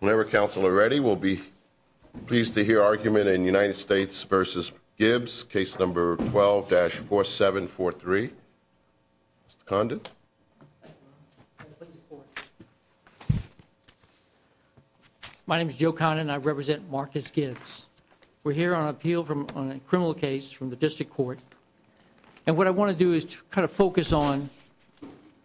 Whenever council are ready, we'll be pleased to hear argument in United States v. Gibbs, case number 12-4743. Mr. Condon. My name is Joe Condon and I represent Marcus Gibbs. We're here on appeal on a criminal case from the district court. And what I want to do is kind of focus on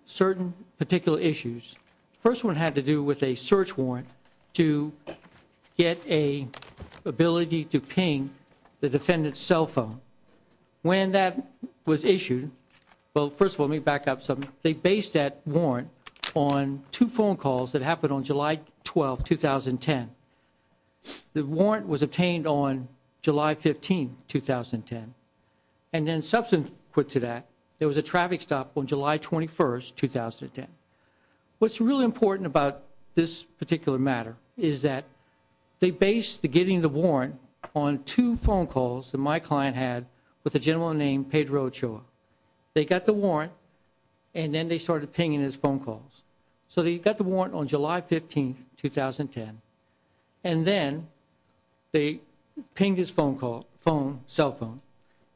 certain particular issues. First one had to do with a search warrant to get a ability to ping the defendant's cell phone. When that was issued, well, first of all, let me back up some. They based that warrant on two phone calls that happened on July 12, 2010. The warrant was obtained on July 15, 2010. And then subsequent to that, there was a traffic stop on July 21, 2010. What's really important about this particular matter is that they based the getting the warrant on two phone calls that my client had with a gentleman named Pedro Ochoa. They got the warrant and then they started pinging his phone calls. So they got the warrant on July 15, 2010. And then they pinged his cell phone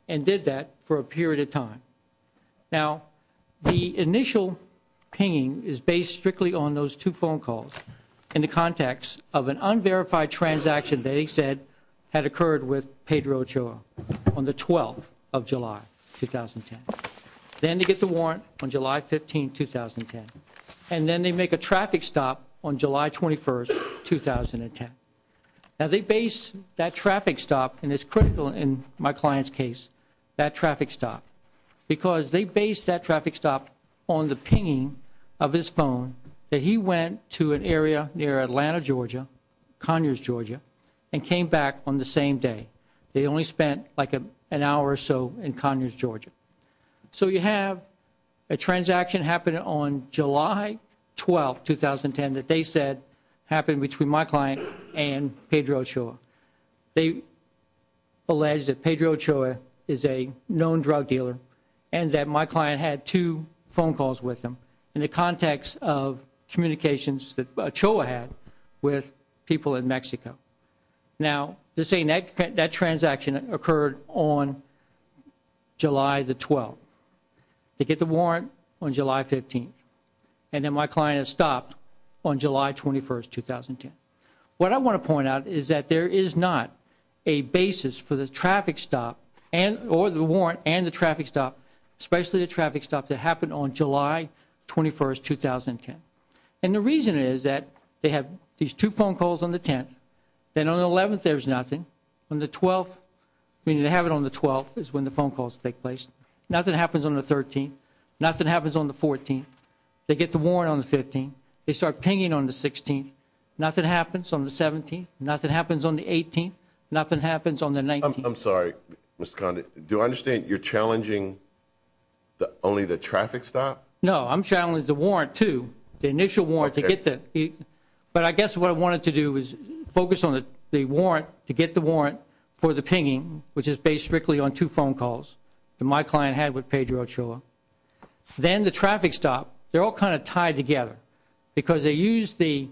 and did that for a period of time. Now, the initial pinging is based strictly on those two phone calls in the context of an unverified transaction they said had occurred with Pedro Ochoa on the 12th of July, 2010. Then they get the warrant on July 15, 2010. And then they make a traffic stop on July 21, 2010. Now, they based that traffic stop, and it's critical in my client's case, that traffic stop. Because they based that traffic stop on the pinging of his phone that he went to an area near Atlanta, Georgia, Conyers, Georgia, and came back on the same day. They only spent like an hour or so in Conyers, Georgia. So you have a transaction happening on July 12, 2010 that they said happened between my client and Pedro Ochoa. They alleged that Pedro Ochoa is a known drug dealer and that my client had two phone calls with him in the context of communications that Ochoa had with people in Mexico. Now, they're saying that transaction occurred on July the 12th. They get the warrant on July 15th. And then my client has stopped on July 21, 2010. What I want to point out is that there is not a basis for the traffic stop or the warrant and the traffic stop, especially the traffic stop that happened on July 21, 2010. And the reason is that they have these two phone calls on the 10th. Then on the 11th, there's nothing. On the 12th, meaning they have it on the 12th is when the phone calls take place. Nothing happens on the 13th. Nothing happens on the 14th. They get the warrant on the 15th. They start pinging on the 16th. Nothing happens on the 17th. Nothing happens on the 18th. Nothing happens on the 19th. I'm sorry, Mr. Condon. Do I understand you're challenging only the traffic stop? No. I'm challenging the warrant, too, the initial warrant. Okay. But I guess what I wanted to do was focus on the warrant to get the warrant for the pinging, which is based strictly on two phone calls that my client had with Pedro Ochoa. Then the traffic stop, they're all kind of tied together because they used the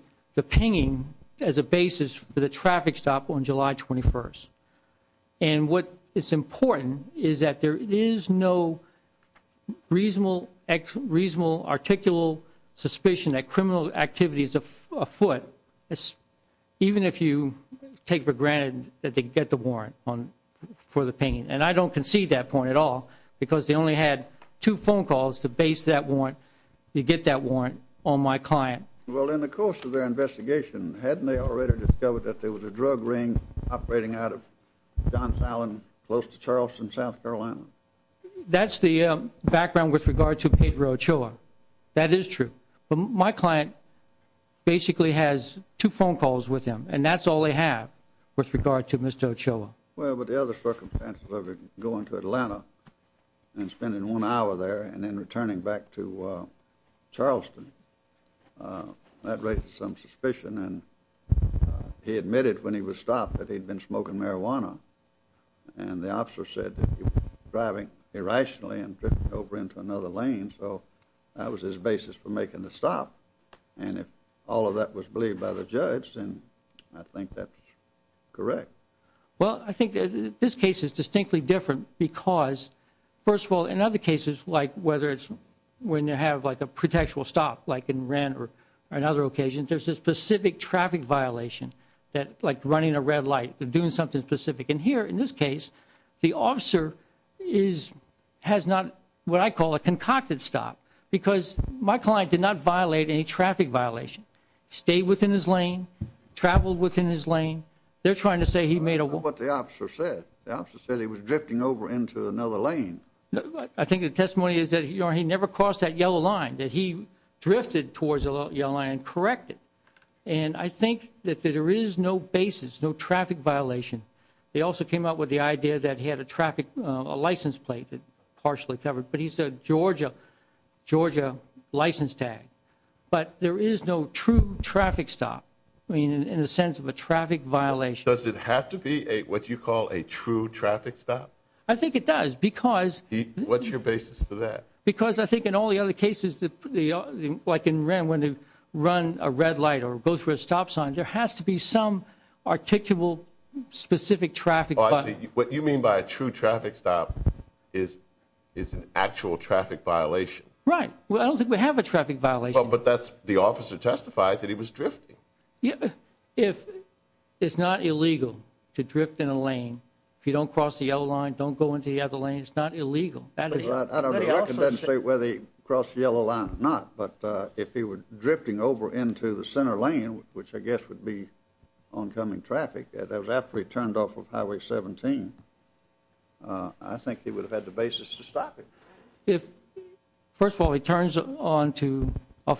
pinging as a basis for the traffic stop on July 21. And what is important is that there is no reasonable articulal suspicion that criminal activity is afoot, even if you take for granted that they get the warrant for the pinging. And I don't concede that point at all because they only had two phone calls to base that warrant, to get that warrant on my client. Well, in the course of their investigation, hadn't they already discovered that there was a drug ring operating out of John Fallon close to Charleston, South Carolina? That's the background with regard to Pedro Ochoa. That is true. But my client basically has two phone calls with him, and that's all they have with regard to Mr. Ochoa. Well, but the other circumstances of him going to Atlanta and spending one hour there and then returning back to Charleston, that raises some suspicion. And he admitted when he was stopped that he'd been smoking marijuana, and the officer said that he was driving irrationally and drifting over into another lane. So that was his basis for making the stop. And if all of that was believed by the judge, then I think that's correct. Well, I think this case is distinctly different because, first of all, in other cases, like whether it's when you have, like, a pretextual stop, like in rent or on other occasions, there's a specific traffic violation that, like running a red light, doing something specific. And here, in this case, the officer has not what I call a concocted stop because my client did not violate any traffic violation, stayed within his lane, traveled within his lane. They're trying to say he made a one. I don't know what the officer said. The officer said he was drifting over into another lane. I think the testimony is that he never crossed that yellow line, that he drifted towards the yellow line and corrected. And I think that there is no basis, no traffic violation. They also came up with the idea that he had a license plate that partially covered, but he said Georgia license tag. But there is no true traffic stop, I mean, in the sense of a traffic violation. Does it have to be what you call a true traffic stop? I think it does because. What's your basis for that? Because I think in all the other cases, like in rent, when they run a red light or go through a stop sign, there has to be some articulable specific traffic. What you mean by a true traffic stop is an actual traffic violation. Right. Well, I don't think we have a traffic violation. But that's the officer testified that he was drifting. If it's not illegal to drift in a lane, if you don't cross the yellow line, don't go into the other lane, it's not illegal. I don't know whether he crossed the yellow line or not, but if he were drifting over into the center lane, which I guess would be oncoming traffic, after he turned off of Highway 17, I think he would have had the basis to stop him. First of all, he turns off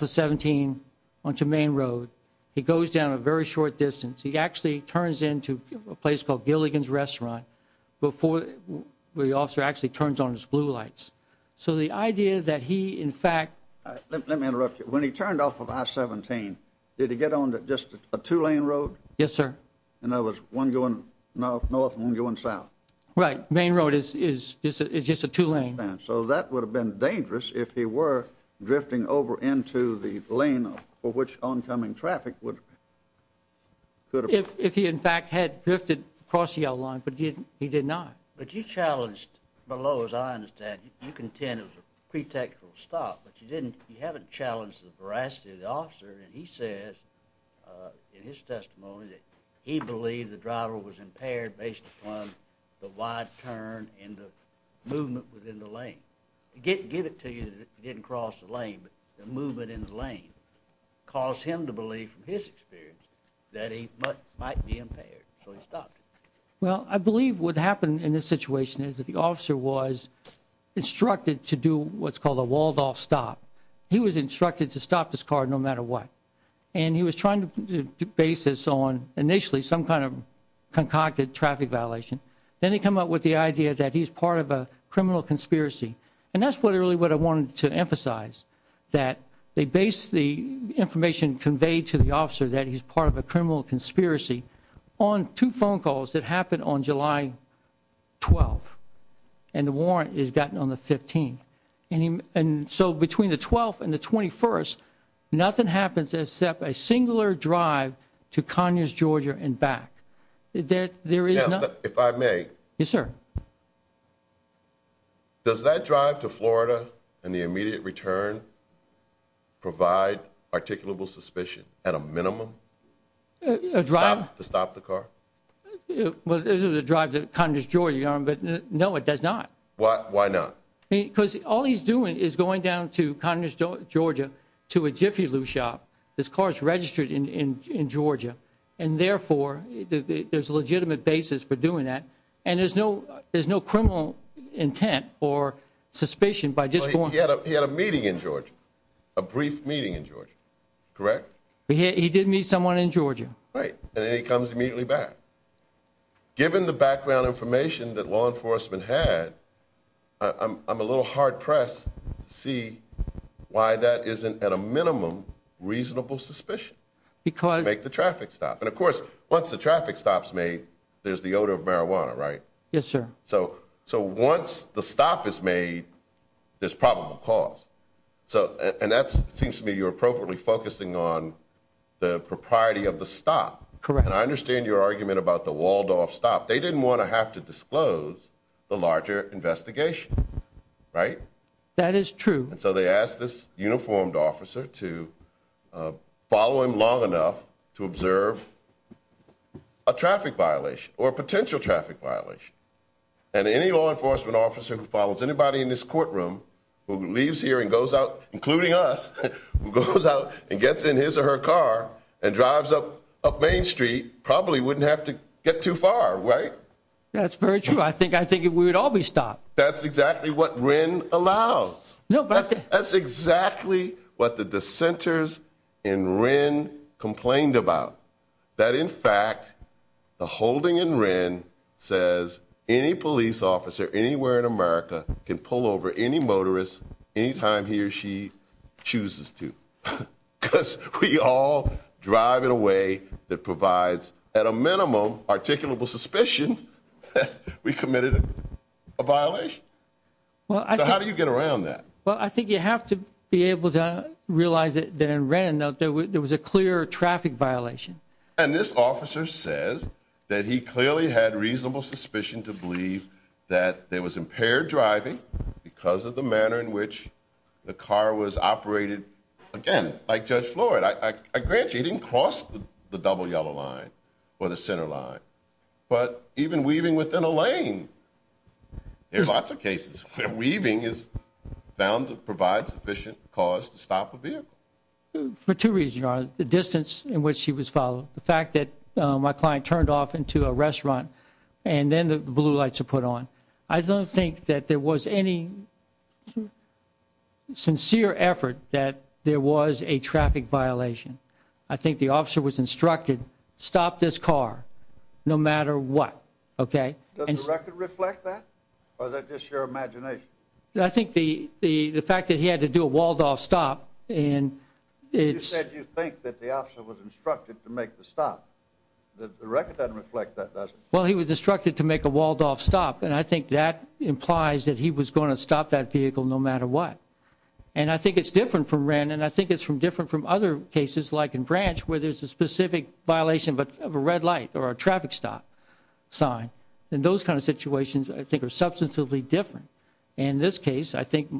of 17 onto Main Road. He goes down a very short distance. He actually turns into a place called Gilligan's Restaurant before the officer actually turns on his blue lights. So the idea that he, in fact— Let me interrupt you. When he turned off of I-17, did he get on just a two-lane road? Yes, sir. In other words, one going north and one going south. Right. Main Road is just a two-lane. I understand. So that would have been dangerous if he were drifting over into the lane for which oncoming traffic would have— If he, in fact, had drifted across the yellow line, but he did not. But you challenged below, as I understand. You contend it was a pretextual stop, but you haven't challenged the veracity of the officer. And he says in his testimony that he believed the driver was impaired based upon the wide turn and the movement within the lane. To give it to you that he didn't cross the lane, but the movement in the lane caused him to believe, from his experience, that he might be impaired. So he stopped. Well, I believe what happened in this situation is that the officer was instructed to do what's called a Waldorf stop. He was instructed to stop this car no matter what. And he was trying to base this on, initially, some kind of concocted traffic violation. Then they come up with the idea that he's part of a criminal conspiracy. And that's really what I wanted to emphasize, that they base the information conveyed to the officer that he's part of a criminal conspiracy on two phone calls that happened on July 12th. And the warrant is gotten on the 15th. And so between the 12th and the 21st, nothing happens except a singular drive to Conyers, Georgia, and back. Now, if I may. Yes, sir. Does that drive to Florida and the immediate return provide articulable suspicion at a minimum? A drive? To stop the car? Well, this is a drive to Conyers, Georgia, but no, it does not. Why not? Because all he's doing is going down to Conyers, Georgia, to a Jiffy Lube shop. This car is registered in Georgia, and therefore there's a legitimate basis for doing that. And there's no criminal intent or suspicion by just going. He had a meeting in Georgia, a brief meeting in Georgia, correct? He did meet someone in Georgia. Right. And then he comes immediately back. Given the background information that law enforcement had, I'm a little hard-pressed to see why that isn't, at a minimum, reasonable suspicion. To make the traffic stop. And, of course, once the traffic stop's made, there's the odor of marijuana, right? Yes, sir. So once the stop is made, there's probable cause. And that seems to me you're appropriately focusing on the propriety of the stop. Correct. And I understand your argument about the Waldorf stop. They didn't want to have to disclose the larger investigation, right? That is true. And so they asked this uniformed officer to follow him long enough to observe a traffic violation or a potential traffic violation. And any law enforcement officer who follows anybody in this courtroom, who leaves here and goes out, including us, who goes out and gets in his or her car and drives up Main Street, probably wouldn't have to get too far, right? That's very true. I think we would all be stopped. That's exactly what Wren allows. That's exactly what the dissenters in Wren complained about. That, in fact, the holding in Wren says any police officer anywhere in America can pull over any motorist anytime he or she chooses to. Because we all drive in a way that provides, at a minimum, articulable suspicion that we committed a violation. So how do you get around that? Well, I think you have to be able to realize that in Wren there was a clear traffic violation. And this officer says that he clearly had reasonable suspicion to believe that there was impaired driving because of the manner in which the car was operated, again, like Judge Floyd. I grant you, he didn't cross the double yellow line or the center line. But even weaving within a lane, there's lots of cases where weaving is found to provide sufficient cause to stop a vehicle. For two reasons, Your Honor, the distance in which he was followed, the fact that my client turned off into a restaurant, and then the blue lights were put on. I don't think that there was any sincere effort that there was a traffic violation. I think the officer was instructed, stop this car, no matter what. Okay? Does the record reflect that, or is that just your imagination? I think the fact that he had to do a walled-off stop and it's... You said you think that the officer was instructed to make the stop. The record doesn't reflect that, does it? Well, he was instructed to make a walled-off stop, and I think that implies that he was going to stop that vehicle no matter what. And I think it's different from Wren, and I think it's different from other cases, like in Branch, where there's a specific violation of a red light or a traffic stop sign. And those kind of situations, I think, are substantively different. In this case, I think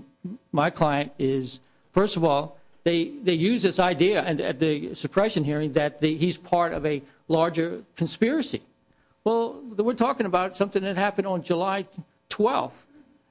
my client is, first of all, they use this idea at the suppression hearing that he's part of a larger conspiracy. Well, we're talking about something that happened on July 12th,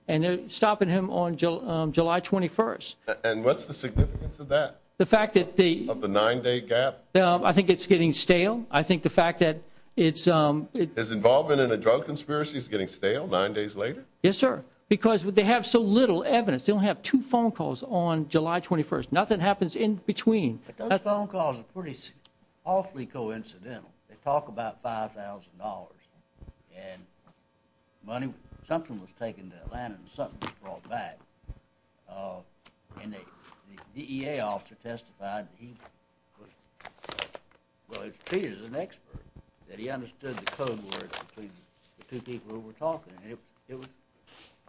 and they're stopping him on July 21st. And what's the significance of that? The fact that the... Of the nine-day gap? I think it's getting stale. I think the fact that it's... His involvement in a drug conspiracy is getting stale nine days later? Yes, sir. Because they have so little evidence. They only have two phone calls on July 21st. Nothing happens in between. But those phone calls are pretty awfully coincidental. They talk about $5,000, and money... Something was taken to Atlanta, and something was brought back. And the DEA officer testified that he was... Well, he's an expert, that he understood the code words between the two people who were talking, and it was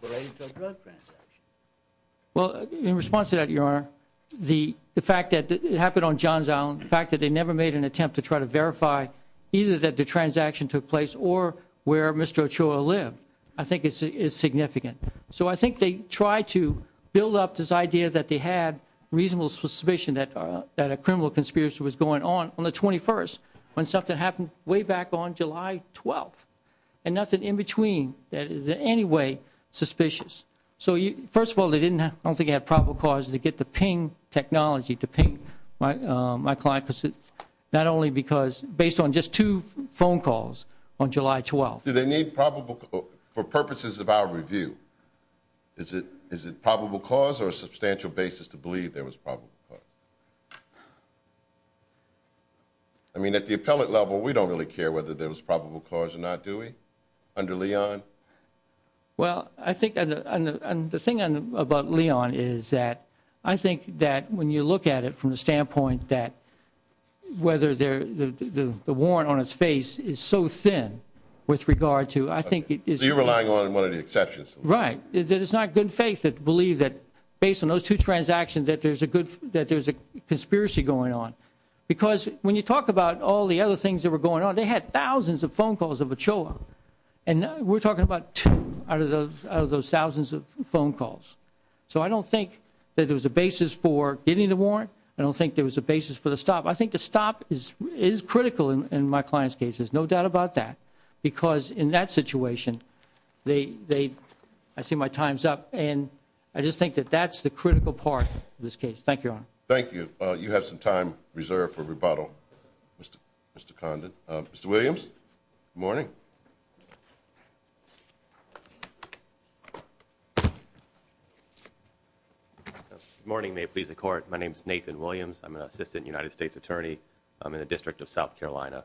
related to a drug transaction. Well, in response to that, Your Honor, the fact that it happened on John's Island, the fact that they never made an attempt to try to verify either that the transaction took place or where Mr. Ochoa lived, I think is significant. So I think they tried to build up this idea that they had reasonable suspicion that a criminal conspiracy was going on on the 21st, when something happened way back on July 12th. And nothing in between that is in any way suspicious. First of all, I don't think they had probable cause to get the ping technology to ping my client, not only because based on just two phone calls on July 12th. Do they need probable cause for purposes of our review? Is it probable cause or a substantial basis to believe there was probable cause? I mean, at the appellate level, we don't really care whether there was probable cause or not, do we, under Leon? Well, I think the thing about Leon is that I think that when you look at it from the standpoint that whether the warrant on its face is so thin with regard to, I think it is. So you're relying on one of the exceptions. Right. It is not good faith to believe that based on those two transactions that there's a conspiracy going on. Because when you talk about all the other things that were going on, they had thousands of phone calls of Ochoa. And we're talking about two out of those thousands of phone calls. So I don't think that there was a basis for getting the warrant. I don't think there was a basis for the stop. I think the stop is critical in my client's case. There's no doubt about that. Because in that situation, I see my time's up. And I just think that that's the critical part of this case. Thank you, Your Honor. Thank you. You have some time reserved for rebuttal, Mr. Condon. Mr. Williams, good morning. Good morning. May it please the Court. My name is Nathan Williams. I'm an assistant United States attorney. I'm in the District of South Carolina.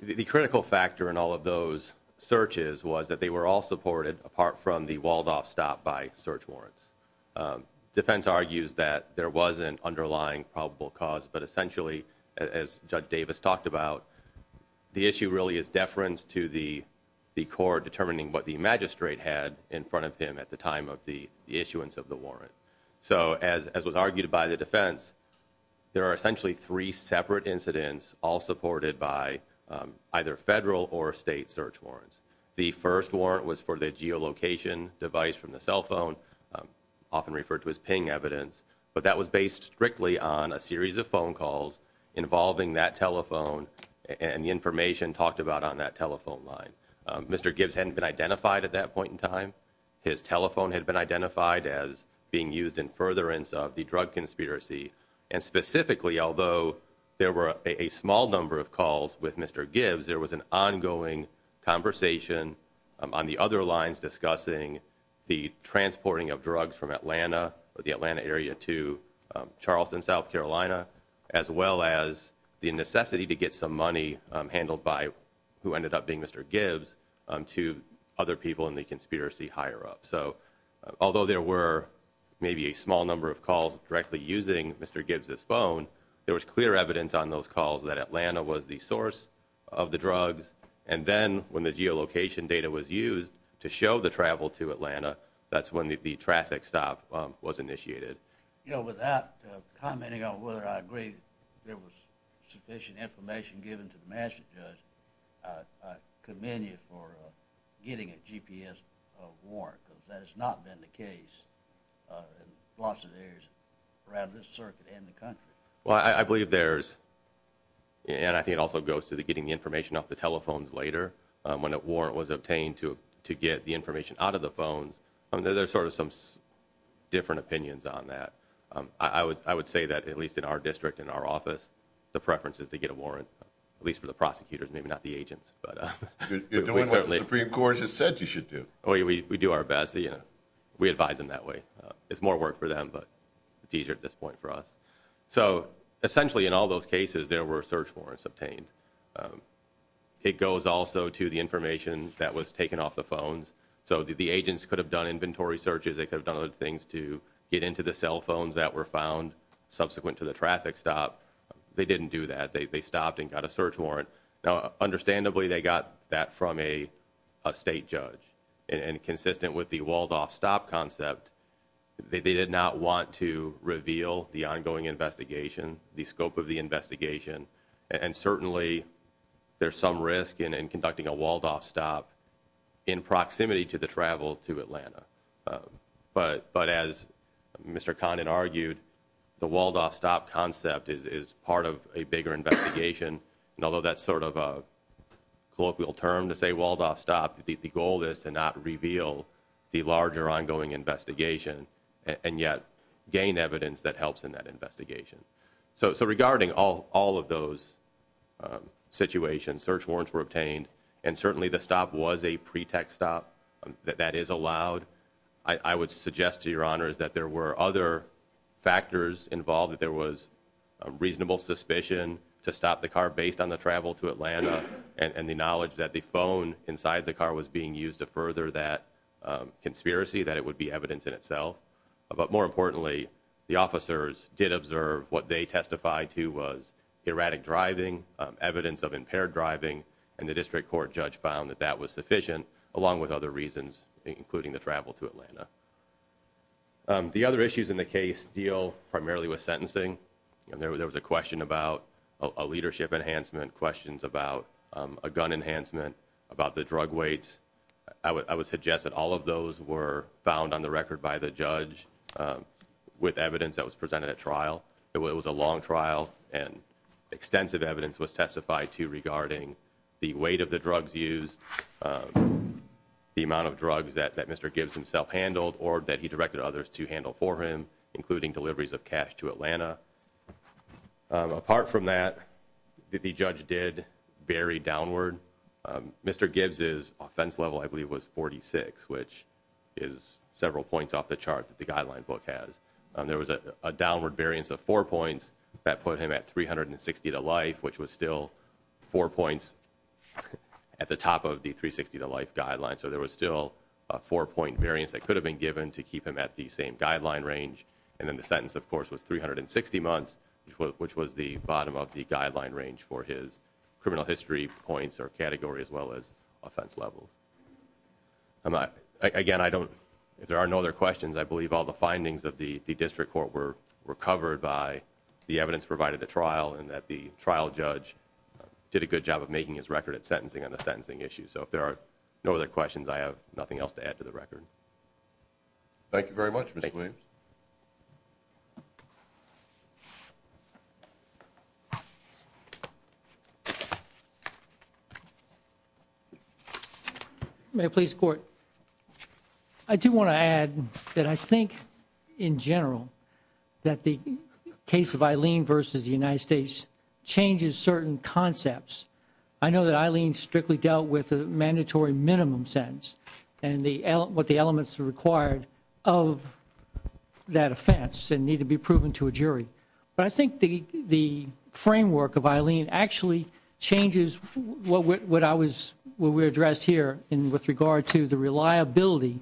The critical factor in all of those searches was that they were all supported, apart from the Waldorf stop by search warrants. Defense argues that there wasn't underlying probable cause. But essentially, as Judge Davis talked about, the issue really is deference to the court determining what the magistrate had in front of him at the time of the issuance of the warrant. So as was argued by the defense, there are essentially three separate incidents all supported by either federal or state search warrants. The first warrant was for the geolocation device from the cell phone, often referred to as ping evidence. But that was based strictly on a series of phone calls involving that telephone and the information talked about on that telephone line. Mr. Gibbs hadn't been identified at that point in time. His telephone had been identified as being used in furtherance of the drug conspiracy. And specifically, although there were a small number of calls with Mr. Gibbs, there was an ongoing conversation on the other lines discussing the transporting of drugs from Atlanta or the Atlanta area to Charleston, South Carolina, as well as the necessity to get some money handled by who ended up being Mr. Gibbs to other people in the conspiracy higher up. So although there were maybe a small number of calls directly using Mr. Gibbs, this phone, there was clear evidence on those calls that Atlanta was the source of the drugs. And then when the geolocation data was used to show the travel to Atlanta, that's when the traffic stop was initiated. You know, without commenting on whether I agree there was sufficient information given to the master judge, I commend you for getting a GPS warrant because that has not been the case in lots of areas around this circuit and the country. Well, I believe there's, and I think it also goes to the getting the information off the telephones later when a warrant was obtained to, to get the information out of the phones. I mean, there's sort of some different opinions on that. I would, I would say that at least in our district, in our office, the preference is to get a warrant, at least for the prosecutors, maybe not the agents, but the Supreme court has said you should do. Oh yeah, we, we do our best. You know, we advise them that way. It's more work for them, but it's easier at this point for us. So essentially in all those cases, there were search warrants obtained. Um, it goes also to the information that was taken off the phones. So the, the agents could have done inventory searches. They could have done other things to get into the cell phones that were found subsequent to the traffic stop. They didn't do that. They, they stopped and got a search warrant. Now, understandably they got that from a, a state judge and consistent with the walled off stop concept. They, they did not want to reveal the ongoing investigation, the scope of the investigation. And certainly there's some risk in, in conducting a walled off stop in proximity to the travel to Atlanta. Um, but, but as Mr. Condon argued, the walled off stop concept is, is part of a bigger investigation. And although that's sort of a colloquial term to say walled off stop, the, the goal is to not reveal the larger ongoing investigation and yet gain evidence that helps in that investigation. So, so regarding all, all of those, um, situations, search warrants were obtained and certainly the stop was a pretext stop that, that is allowed. I would suggest to your honors that there were other factors involved, that there was a reasonable suspicion to stop the car based on the travel to Atlanta and the knowledge that the phone inside the car was being used to further that, um, conspiracy, that it would be evidence in itself. But more importantly, the officers did observe what they testified to was erratic driving, um, evidence of impaired driving and the district court judge found that that was sufficient along with other reasons, including the travel to Atlanta. Um, the other issues in the case deal primarily with sentencing. And there was, there was a question about a leadership enhancement questions about, um, a gun enhancement about the drug weights. I would, I would suggest that all of those were found on the record by the judge. Um, with evidence that was presented at trial, it was a long trial and extensive evidence was testified to regarding the weight of the drugs used, um, the amount of drugs that, that Mr. Gibbs himself handled or that he directed others to handle for him, including deliveries of cash to Atlanta. Um, apart from that, the judge did bury downward. Um, Mr. Gibbs is offense level, I believe was 46, which is several points off the chart that the guideline book has. Um, there was a, a downward variance of four points that put him at 360 to life, which was still four points at the top of the three 60 to life guidelines. So there was still a four point variance that could have been given to keep him at the same guideline range. And then the sentence of course was 360 months, which was the bottom of the guideline range for his criminal history points or category as well as offense levels. I'm not, again, I don't, if there are no other questions, I believe all the findings of the district court were recovered by the evidence provided the trial and that the trial judge did a good job of making his record at sentencing on the sentencing issue. So if there are no other questions, I have nothing else to add to the record. Thank you very much. Mr. May please court. I do want to add that I think in general that the case of Eileen versus the United States changes certain concepts. I know that Eileen strictly dealt with a mandatory minimum sentence and the L what the elements are required of that offense and need to be proven to a jury. But I think the, the framework of Eileen actually changes what, what I was, what we addressed here in with regard to the reliability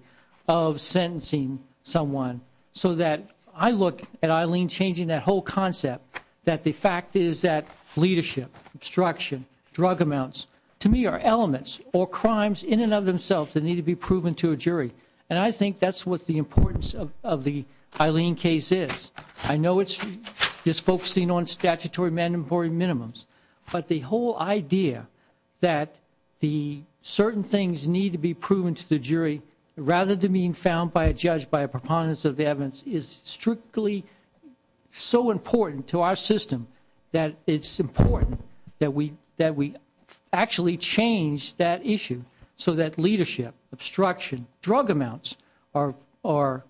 of sentencing someone so that I look at Eileen changing that whole concept that the fact is that leadership obstruction, drug amounts to me are elements or crimes in and of themselves that need to be proven to a jury. And I think that's what the importance of, of the Eileen case is. I know it's just focusing on statutory mandatory minimums, but the whole idea that the certain things need to be proven to the jury rather than being found by a judge, by a preponderance of evidence is strictly so important to our system that it's important that we, that we actually change that issue so that leadership obstruction, drug amounts are, are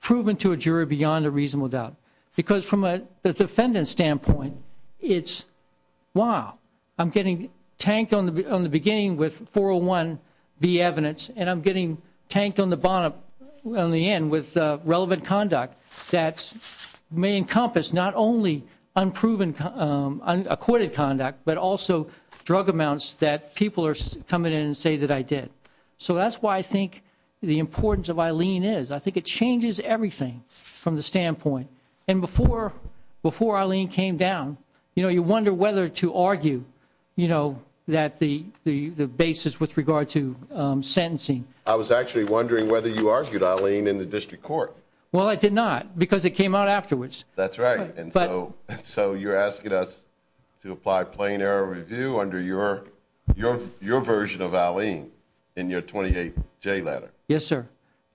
proven to a jury beyond a reasonable doubt. Because from a defendant standpoint, it's wow, I'm getting tanked on the, on the beginning with 401B evidence and I'm getting tanked on the bottom, on the end with relevant conduct that may encompass not only unproven, unacquitted conduct, but also drug amounts that people are coming in and say that I did. So that's why I think the importance of Eileen is, I think it changes everything from the standpoint. And before, before Eileen came down, you know, you wonder whether to argue, you know, that the, the, the basis with regard to sentencing. I was actually wondering whether you argued Eileen in the district court. Well, I did not because it came out afterwards. That's right. And so, so you're asking us to apply plain error review under your, your, your version of Eileen in your 28 J letter. Yes,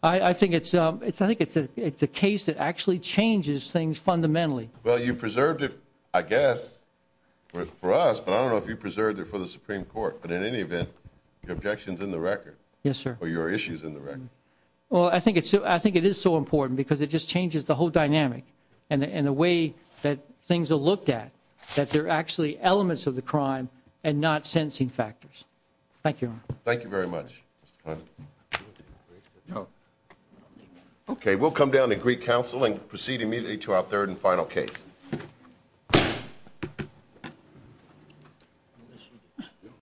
I think it's, it's, I think it's a, it's a case that actually changes things fundamentally. Well, you preserved it, I guess for us, but I don't know if you preserved it for the Supreme court, but in any event, your objections in the record. Yes, sir. Or your issues in the record. Well, I think it's, I think it is so important because it just changes the whole dynamic and the, and the way that things are looked at, that they're actually elements of the crime and not sentencing factors. Thank you. Thank you very much. No. Okay. We'll come down to Greek council and proceed immediately to our third and final case.